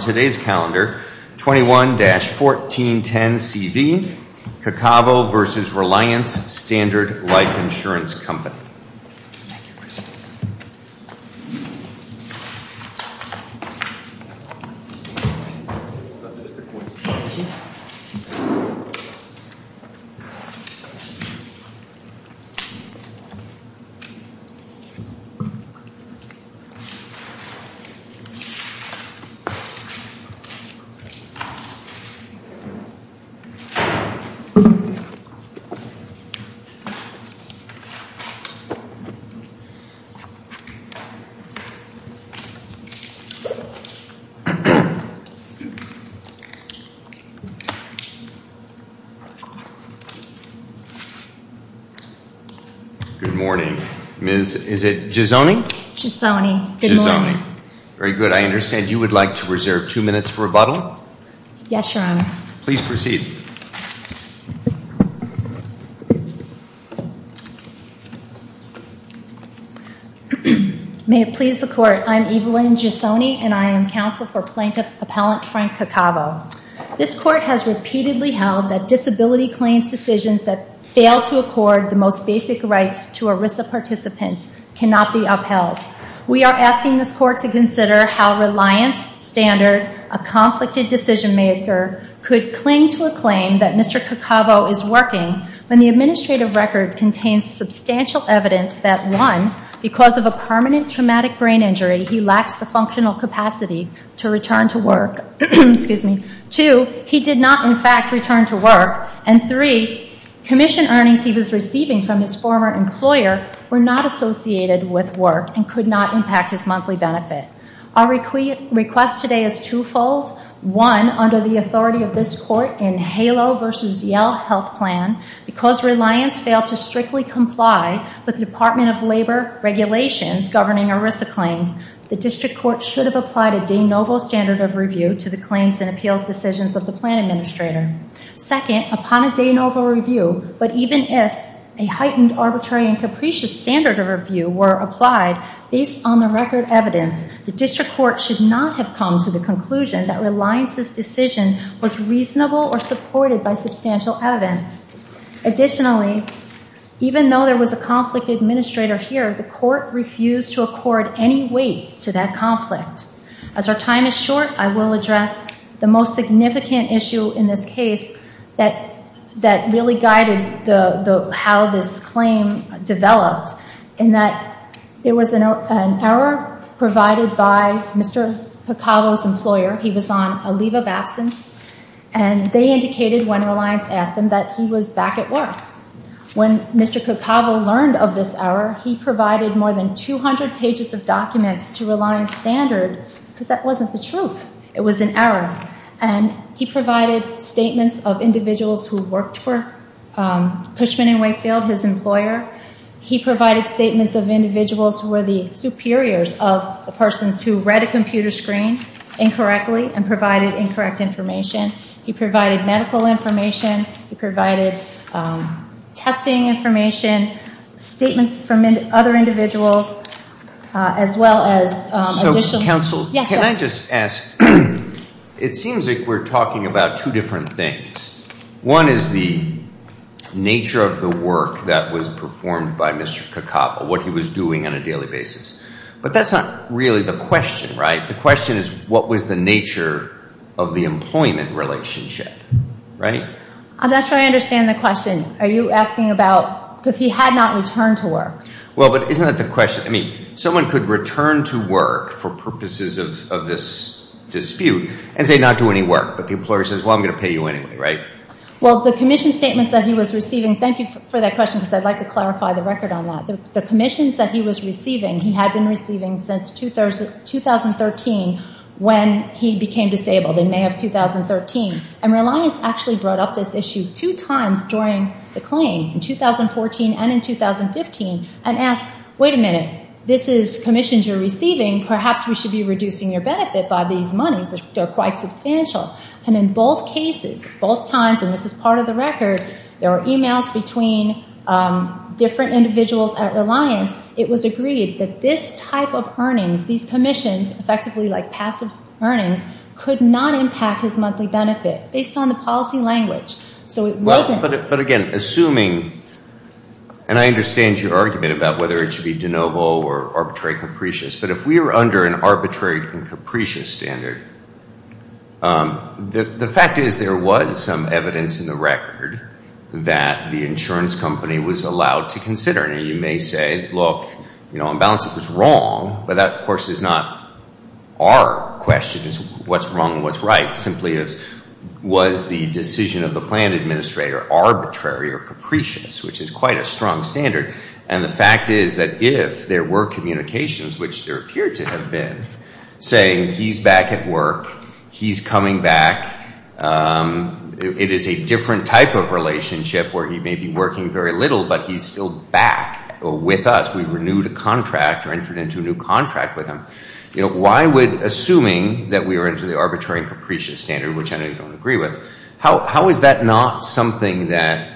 today's calendar $21-1410 CV. Caccavo v. Reliance Standard Life Insurance Company. Good morning. Ms. is it Gizzone? Gizzone. Good morning. Very good. I understand you would like to reserve two minutes for rebuttal? Yes, your honor. Please proceed. May it please the court. I'm Evelyn Gizzone and I am counsel for plaintiff appellant Frank Caccavo. This court has repeatedly held that disability claims decisions that fail to accord the most basic rights to ERISA participants cannot be upheld. We are asking this court to consider how Reliance Standard, a conflicted decision maker, could cling to a claim that Mr. Caccavo is working when the administrative record contains substantial evidence that one, because of a permanent traumatic brain injury, he lacks the functional capacity to return to work. Two, he did not in fact return to work. And three, commission earnings he was receiving from his former employer were not associated with work and could not impact his monthly benefit. Our request today is twofold. One, under the authority of this court in HALO versus Yale health plan, because Reliance failed to strictly comply with the Department of Labor regulations governing ERISA claims, the district court should have applied a de novo standard of review to the claims and appeals decisions of the plan administrator. Second, upon a de novo review, but even if a heightened arbitrary and capricious standard of review were applied, based on the record evidence, the district court should not have come to the conclusion that Reliance's decision was reasonable or supported by substantial evidence. Additionally, even though there was a conflict administrator here, the court refused to accord any weight to that conflict. As our time is short, I will address the most significant issue in this case that really guided how this claim developed in that it was an error provided by Mr. Cacavo's employer. He was on a leave of absence. And they indicated when Reliance asked him that he was back at work. When Mr. Cacavo learned of this error, he provided more than 200 pages of statements of individuals who worked for Pushman and Wakefield, his employer. He provided statements of individuals who were the superiors of the persons who read a computer screen incorrectly and provided incorrect information. He provided medical information. He provided testing information, statements from other individuals, as well as additional... It seems like we're talking about two different things. One is the nature of the work that was performed by Mr. Cacavo, what he was doing on a daily basis. But that's not really the question, right? The question is what was the nature of the employment relationship, right? I'm not sure I understand the question. Are you asking about... because he had not returned to work. Well, but isn't that the question? I mean, someone could return to work for them. They may not do any work, but the employer says, well, I'm going to pay you anyway, right? Well, the commission statements that he was receiving, thank you for that question because I'd like to clarify the record on that. The commissions that he was receiving, he had been receiving since 2013 when he became disabled in May of 2013. And Reliance actually brought up this issue two times during the claim, in 2014 and in 2015, and asked, wait a minute, this is commissions you're receiving that are in fact substantial. And in both cases, both times, and this is part of the record, there were e-mails between different individuals at Reliance. It was agreed that this type of earnings, these commissions, effectively like passive earnings, could not impact his monthly benefit based on the policy language. So it wasn't... Well, but again, assuming, and I understand your argument about whether it should be de novo or arbitrary capricious, but if we were under an arbitrary and capricious standard, the fact is there was some evidence in the record that the insurance company was allowed to consider. And you may say, look, on balance it was wrong, but that, of course, is not our question. It's what's wrong and what's right. Simply it was the decision of the plan administrator arbitrary or capricious, which is quite a strong standard. And the fact is that if there were communications, which there appeared to have been, saying he's back at work, he's coming back, it is a different type of relationship where he may be working very little, but he's still back with us. We renewed a contract or entered into a new contract with him. Why would assuming that we were under the arbitrary and capricious standard, which I don't agree with, how is that not something that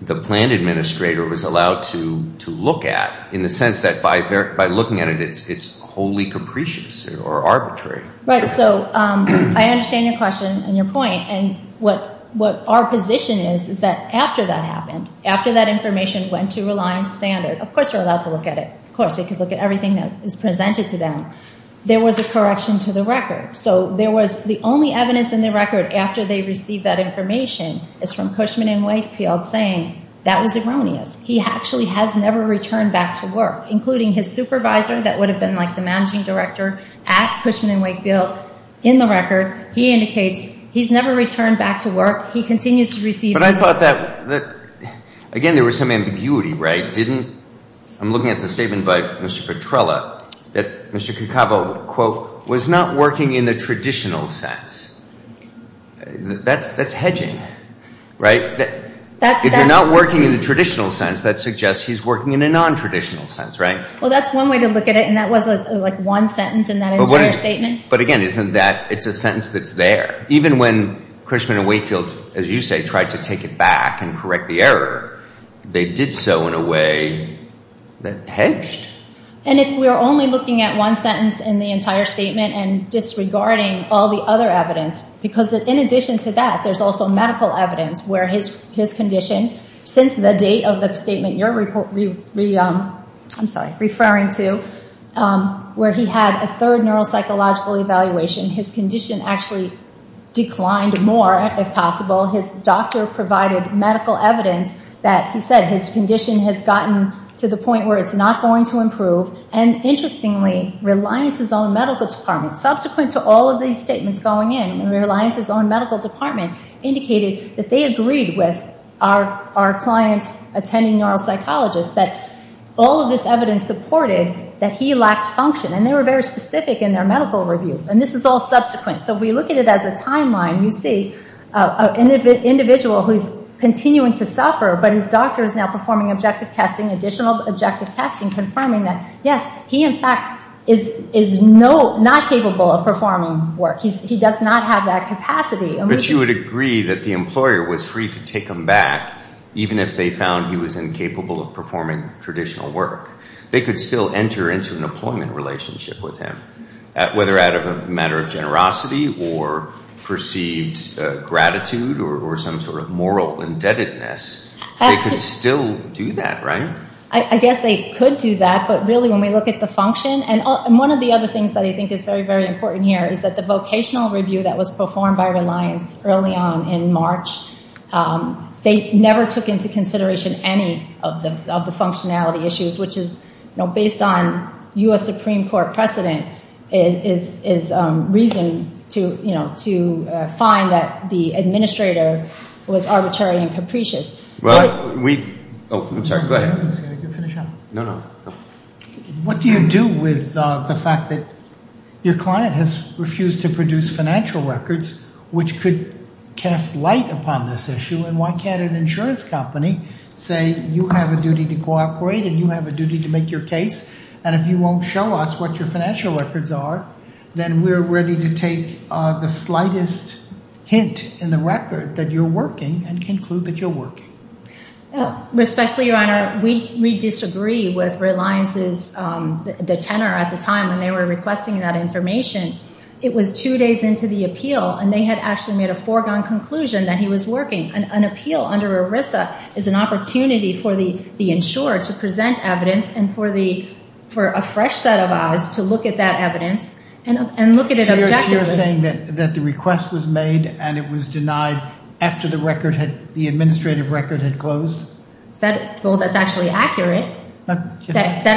the plan administrator was allowed to look at in the sense that by looking at it, it's wholly capricious or arbitrary? Right. So I understand your question and your point. And what our position is is that after that happened, after that information went to Reliance Standard, of course they're allowed to look at it. Of course, they could look at everything that is presented to them. There was a correction to the record. So there was the only evidence in the record after they received that information is from Cushman and Whitefield saying that was erroneous. He actually has never returned back to work, including his supervisor, that would have been like the managing director at Cushman and Whitefield. In the record, he indicates he's never returned back to work. He continues to receive... But I thought that, again, there was some ambiguity, right? Didn't, I'm looking at the statement by Mr. Petrella that Mr. Cacavo, quote, was not working in the traditional sense. That's hedging, right? If you're not working in the traditional sense, that suggests he's working in a nontraditional sense, right? Well, that's one way to look at it, and that was like one sentence in that entire statement. But again, isn't that, it's a sentence that's there. Even when Cushman and Whitefield, as you say, tried to take it back and correct the error, they did so in a way that hedged. And if we're only looking at one sentence in the entire statement and disregarding all the other evidence, because in addition to that, there's also medical evidence where his condition, since the date of the statement you're referring to, where he had a third neuropsychological evaluation, his condition actually declined more, if possible. His doctor provided medical evidence that he said his condition has gotten to the point where it's not going to improve. And interestingly, Reliance's own medical department, subsequent to all of these statements going in, Reliance's own medical department indicated that they agreed with our clients attending neuropsychologists that all of this evidence supported that he lacked function, and they were very specific in their medical reviews. And this is all subsequent. So if we look at it as a timeline, you see an individual who's continuing to suffer, but his doctor is now performing objective testing, additional objective testing, confirming that, yes, he in fact is not capable of performing traditional work. He does not have that capacity. But you would agree that the employer was free to take him back even if they found he was incapable of performing traditional work. They could still enter into an employment relationship with him, whether out of a matter of generosity or perceived gratitude or some sort of moral indebtedness. They could still do that, right? I guess they could do that, but really when we look at the function, and one of the other things that I think is very, very important here is that the vocational review that was performed by Reliance early on in March, they never took into consideration any of the functionality issues, which is based on U.S. Supreme Court precedent is reason to find that the administrator was arbitrary and capricious. What do you do with the fact that your client has refused to produce financial records, which could cast light upon this issue, and why can't an insurance company say you have a duty to cooperate and you have a duty to make your case, and if you won't show us what your financial records are, then we're ready to take the slightest hint in the record that you're working and conclude that you're working? Respectfully, Your Honor, we disagree with Reliance's, the tenor at the time when they were requesting that information. It was two days into the appeal, and they had actually made a foregone conclusion that he was working. An appeal under ERISA is an opportunity for the insurer to present evidence and for a fresh set of eyes to look at that evidence and look at it objectively. So you're saying that the request was made and it was denied after the administrative record had closed? Well, that's actually accurate. That,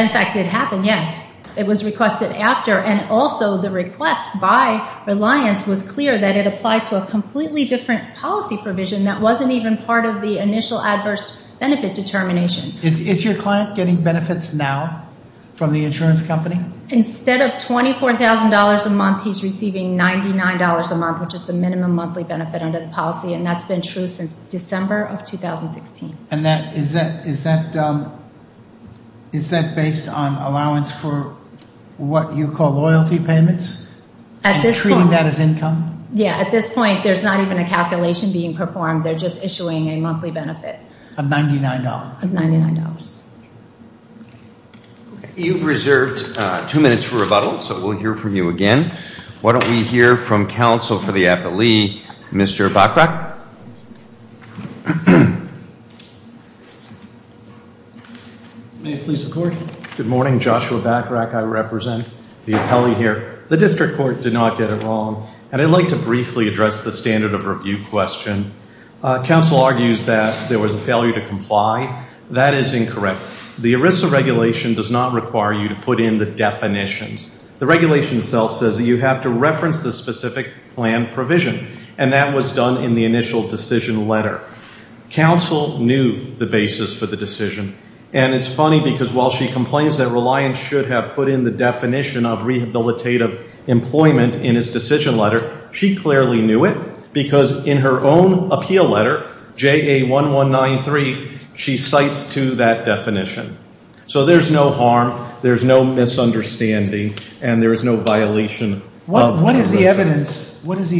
in fact, did happen, yes. It was requested after, and also the request by Reliance was clear that it applied to a completely different policy provision that wasn't even part of the initial adverse benefit determination. Is your client getting benefits now from the insurance company? Instead of $24,000 a month, he's receiving $99 a month, which is the minimum monthly benefit under the policy, and that's been true since December of 2016. And is that based on allowance for what you call loyalty payments? At this point. And treating that as income? Yeah. At this point, there's not even a calculation being performed. They're just issuing a monthly benefit. Of $99? Of $99. Okay. You've reserved two minutes for rebuttal, so we'll hear from you again. Why don't we hear from counsel for the appellee, Mr. Bachrach? May it please the Court? Good morning. Joshua Bachrach. I represent the appellee here. The district court did not get it wrong, and I'd like to briefly address the standard of review question. Counsel argues that there was a failure to comply. That is incorrect. The ERISA regulation does not require you to put in the definitions. The regulation itself says that you have to reference the specific plan provision, and that was done in the initial decision letter. Counsel knew the basis for the decision, and it's funny because while she complains that reliance should have put in the definition of rehabilitative employment in his decision letter, she clearly knew it because in her own appeal letter, JA1193, she cites to that definition. So there's no harm, there's no misunderstanding, and there is no violation of ERISA. What is the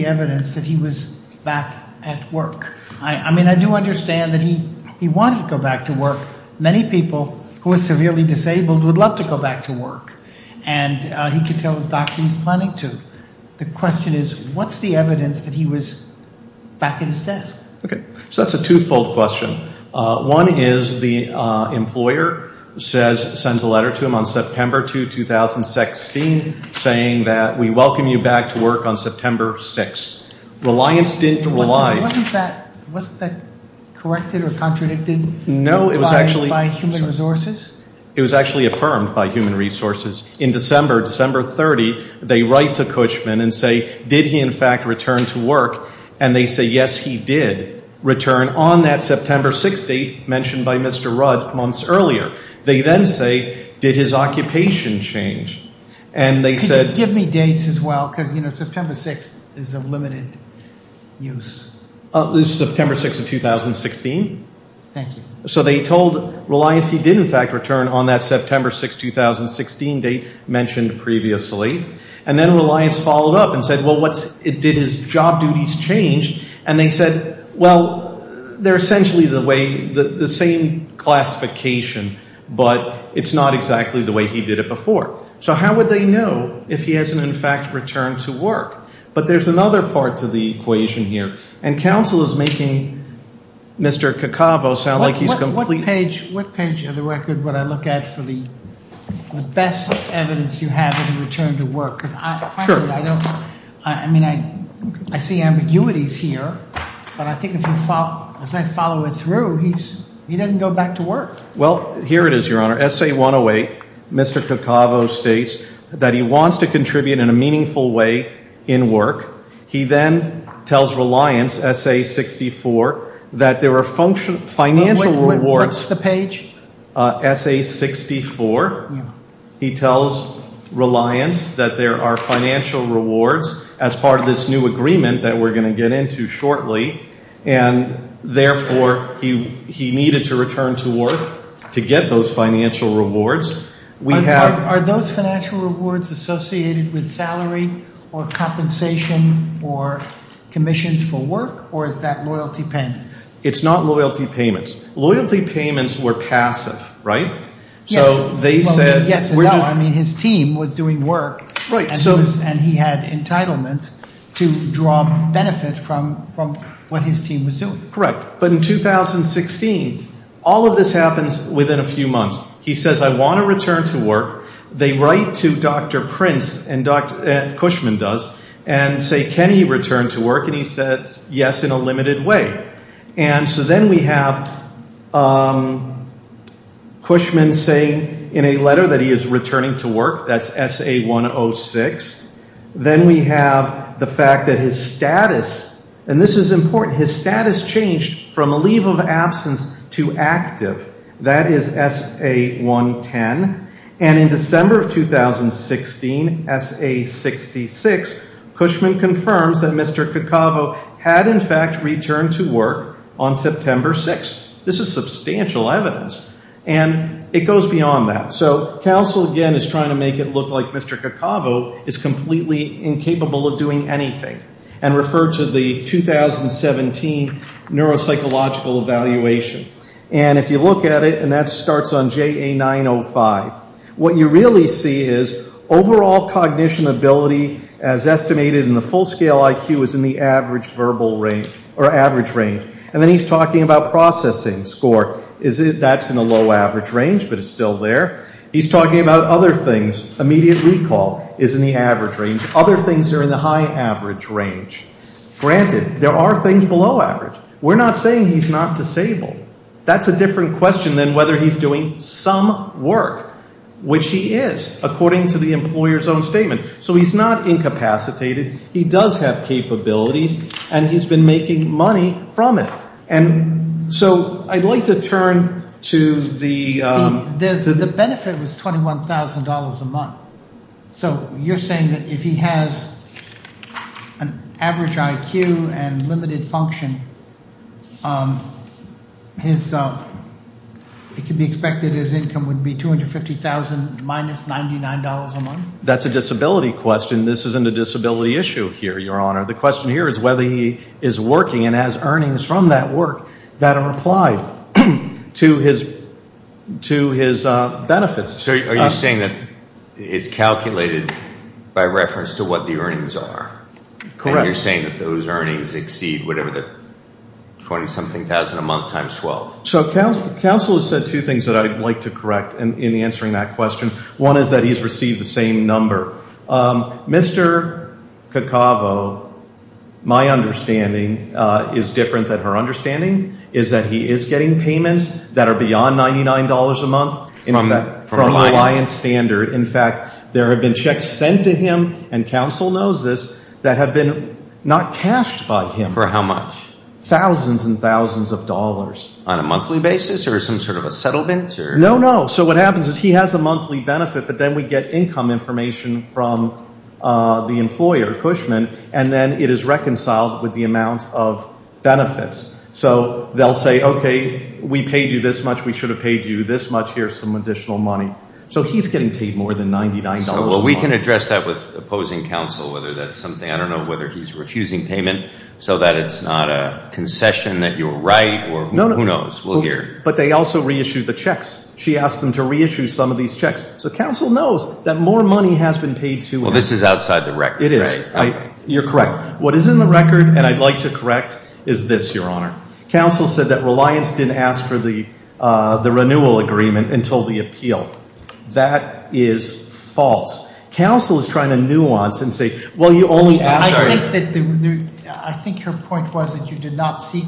evidence that he was back at work? I mean, I do understand that he wanted to go back to work. Many people who are severely disabled would love to go back to work, and he could tell his doctor he's planning to. The question is, what's the evidence that he was back at his desk? Okay. So that's a two-fold question. One is the employer sends a letter to him on September 2, 2016, saying that we welcome you back to work on September 6. Reliance didn't rely. Wasn't that corrected or contradicted by human resources? It was actually affirmed by human resources. In December, December 30, they write to Cushman and say, did he in fact return to work? And they say, yes, he did return on that September 6 date mentioned by Mr. Rudd months earlier. They then say, did his occupation change? Could you give me dates as well? Because, you know, September 6 is a limited use. It was September 6 of 2016. Thank you. So they told Reliance he did in fact return on that September 6, 2016 date mentioned previously. And then Reliance followed up and said, well, what it did is job duties changed. And they said, well, they're essentially the same classification, but it's not exactly the way he did it before. So how would they know if he hasn't in fact returned to work? But there's another part to the equation here. And counsel is making Mr. Cacavo sound like he's completely ---- What page of the record would I look at for the best evidence you have of the return to work? Because frankly, I don't ---- Sure. I mean, I see ambiguities here. But I think if I follow it through, he doesn't go back to work. Well, here it is, Your Honor. Essay 108, Mr. Cacavo states that he wants to contribute in a meaningful way in work. He then tells Reliance, Essay 64, that there are financial rewards ---- What's the page? Essay 64. He tells Reliance that there are financial rewards as part of this new agreement that we're going to get into shortly, and therefore he needed to return to work to get those financial rewards. Are those financial rewards associated with salary or compensation or commissions for work, or is that loyalty payments? It's not loyalty payments. Loyalty payments were passive, right? Yes. So they said ---- Yes and no. I mean, his team was doing work. Right. And he had entitlements to draw benefit from what his team was doing. Correct. But in 2016, all of this happens within a few months. He says, I want to return to work. They write to Dr. Prince, and Cushman does, and say, can he return to work? And he says, yes, in a limited way. And so then we have Cushman saying in a letter that he is returning to work. That's Essay 106. Then we have the fact that his status, and this is important, his status changed from a leave of absence to active. That is Essay 110. And in December of 2016, Essay 66, Cushman confirms that Mr. Cacavo had, in fact, returned to work on September 6th. This is substantial evidence, and it goes beyond that. So counsel, again, is trying to make it look like Mr. Cacavo is completely incapable of doing anything and refer to the 2017 neuropsychological evaluation. And if you look at it, and that starts on JA905, what you really see is overall cognition ability as estimated in the full-scale IQ is in the average verbal range, or average range. And then he's talking about processing score. That's in the low average range, but it's still there. He's talking about other things. Immediate recall is in the average range. Other things are in the high average range. Granted, there are things below average. We're not saying he's not disabled. That's a different question than whether he's doing some work, which he is according to the employer's own statement. So he's not incapacitated. He does have capabilities, and he's been making money from it. And so I'd like to turn to the— The benefit was $21,000 a month. So you're saying that if he has an average IQ and limited function, it can be expected his income would be $250,000 minus $99 a month? That's a disability question. This isn't a disability issue here, Your Honor. The question here is whether he is working and has earnings from that work that are applied to his benefits. So are you saying that it's calculated by reference to what the earnings are? Correct. And you're saying that those earnings exceed whatever the 20-something thousand a month times 12? So counsel has said two things that I'd like to correct in answering that question. One is that he's received the same number. Mr. Cacavo, my understanding, is different than her understanding, is that he is getting payments that are beyond $99 a month from Reliance Standard. In fact, there have been checks sent to him, and counsel knows this, that have been not cashed by him. For how much? Thousands and thousands of dollars. On a monthly basis or some sort of a settlement? No, no. So what happens is he has a monthly benefit, but then we get income information from the employer, Cushman, and then it is reconciled with the amount of benefits. So they'll say, okay, we paid you this much. We should have paid you this much. Here's some additional money. So he's getting paid more than $99 a month. Well, we can address that with opposing counsel, whether that's something, I don't know whether he's refusing payment so that it's not a concession that you're right or who knows. We'll hear. But they also reissue the checks. She asked them to reissue some of these checks. So counsel knows that more money has been paid to him. Well, this is outside the record, right? It is. You're correct. What is in the record, and I'd like to correct, is this, Your Honor. Counsel said that Reliance didn't ask for the renewal agreement until the appeal. That is false. Counsel is trying to nuance and say, well, you only asked for it. I think your point was that you did not seek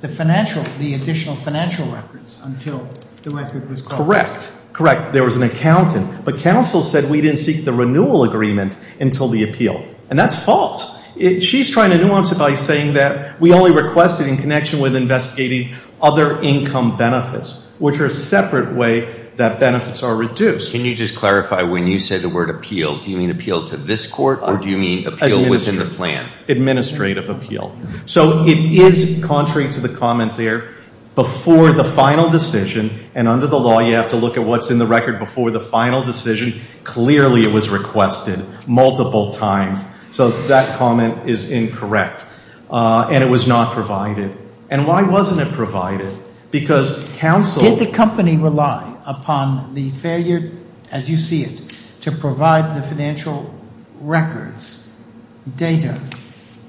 the financial, the additional financial records until the record was closed. Correct. Correct. There was an accountant. But counsel said we didn't seek the renewal agreement until the appeal. And that's false. She's trying to nuance it by saying that we only requested in connection with investigating other income benefits, which are a separate way that benefits are reduced. Can you just clarify, when you say the word appeal, do you mean appeal to this court or do you mean appeal within the plan? Administrative appeal. So it is contrary to the comment there. Before the final decision, and under the law you have to look at what's in the record before the final decision, clearly it was requested multiple times. So that comment is incorrect. And it was not provided. And why wasn't it provided? Because counsel Did the company rely upon the failure, as you see it, to provide the financial records, data,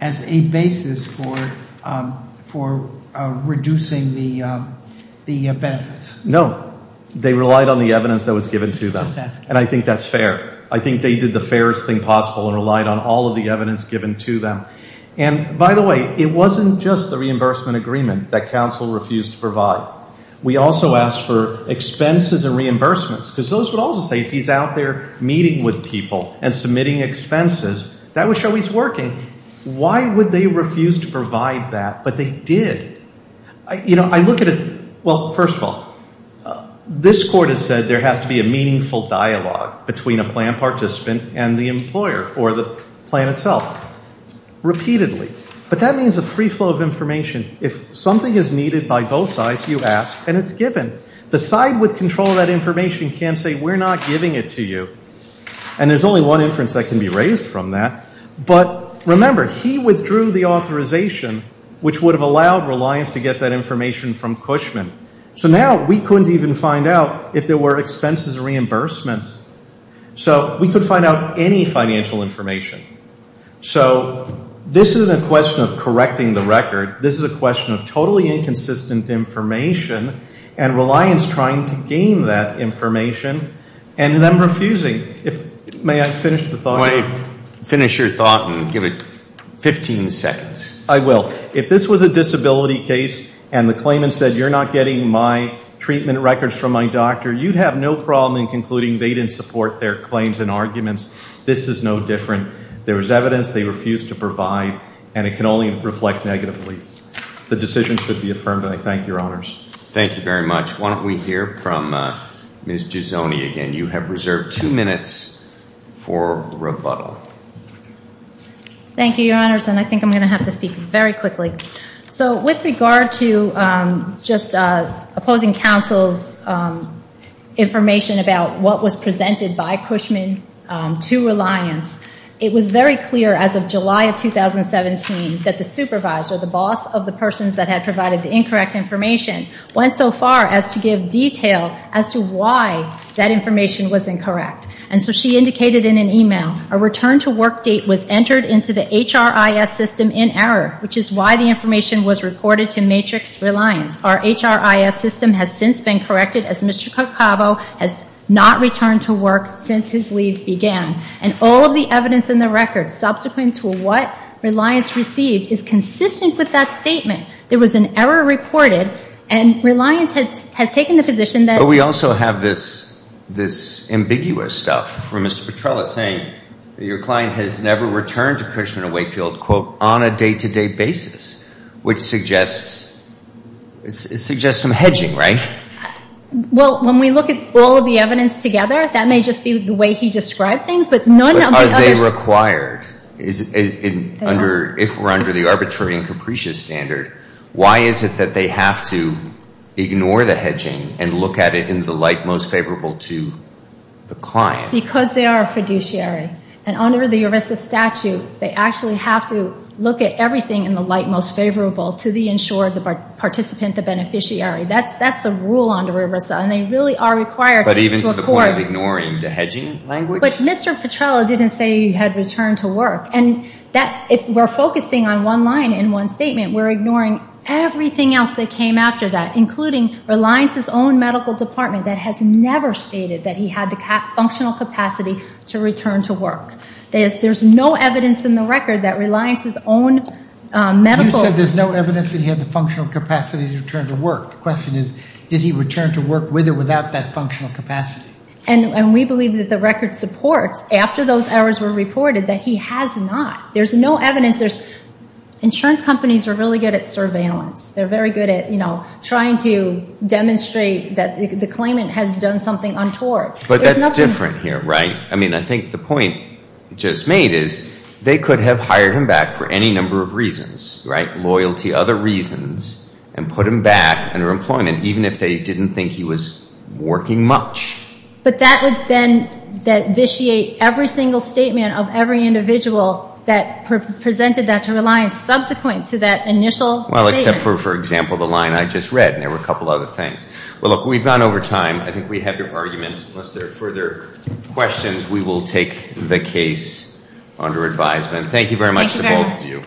as a basis for reducing the benefits? No. They relied on the evidence that was given to them. And I think that's fair. I think they did the fairest thing possible and relied on all of the evidence given to them. And, by the way, it wasn't just the reimbursement agreement that counsel refused to provide. We also asked for expenses and reimbursements because those would also say if he's out there meeting with people and submitting expenses, that would show he's working. Why would they refuse to provide that? But they did. You know, I look at it, well, first of all, this court has said there has to be a meaningful dialogue between a plan participant and the employer or the plan itself repeatedly. But that means a free flow of information. If something is needed by both sides, you ask and it's given. The side with control of that information can't say we're not giving it to you. And there's only one inference that can be raised from that. But, remember, he withdrew the authorization which would have allowed Reliance to get that information from Cushman. So now we couldn't even find out if there were expenses or reimbursements. So we could find out any financial information. So this isn't a question of correcting the record. This is a question of totally inconsistent information and Reliance trying to gain that information and then refusing. May I finish the thought? I want to finish your thought and give it 15 seconds. I will. If this was a disability case and the claimant said you're not getting my treatment records from my doctor, you'd have no problem in concluding they didn't support their claims and arguments. This is no different. There was evidence they refused to provide, and it can only reflect negatively. The decision should be affirmed, and I thank your honors. Thank you very much. Why don't we hear from Ms. Giosoni again. You have reserved two minutes for rebuttal. Thank you, your honors, and I think I'm going to have to speak very quickly. So with regard to just opposing counsel's information about what was presented by Cushman to Reliance, it was very clear as of July of 2017 that the supervisor, the boss of the persons that had provided the incorrect information, went so far as to give detail as to why that information was incorrect. And so she indicated in an email, a return-to-work date was entered into the HRIS system in error, which is why the information was reported to Matrix Reliance. Our HRIS system has since been corrected, as Mr. Cacavo has not returned to work since his leave began. And all of the evidence in the record subsequent to what Reliance received is consistent with that statement. There was an error reported, and Reliance has taken the position that— But we also have this ambiguous stuff from Mr. Petrella saying that your client has never returned to Cushman & Wakefield, quote, on a day-to-day basis, which suggests some hedging, right? Well, when we look at all of the evidence together, that may just be the way he described things, but none of the others— If we're under the arbitrary and capricious standard, why is it that they have to ignore the hedging and look at it in the light most favorable to the client? Because they are a fiduciary, and under the ERISA statute, they actually have to look at everything in the light most favorable to the insured participant, the beneficiary. That's the rule under ERISA, and they really are required to accord— But even to the point of ignoring the hedging language? But Mr. Petrella didn't say he had returned to work. And if we're focusing on one line in one statement, we're ignoring everything else that came after that, including Reliance's own medical department that has never stated that he had the functional capacity to return to work. There's no evidence in the record that Reliance's own medical— You said there's no evidence that he had the functional capacity to return to work. The question is, did he return to work with or without that functional capacity? And we believe that the record supports, after those errors were reported, that he has not. There's no evidence. Insurance companies are really good at surveillance. They're very good at trying to demonstrate that the claimant has done something untoward. But that's different here, right? I mean, I think the point just made is they could have hired him back for any number of reasons, right? And put him back under employment, even if they didn't think he was working much. But that would then vitiate every single statement of every individual that presented that to Reliance subsequent to that initial statement. Well, except for, for example, the line I just read, and there were a couple other things. Well, look, we've gone over time. I think we have your arguments. Unless there are further questions, we will take the case under advisement. Thank you very much.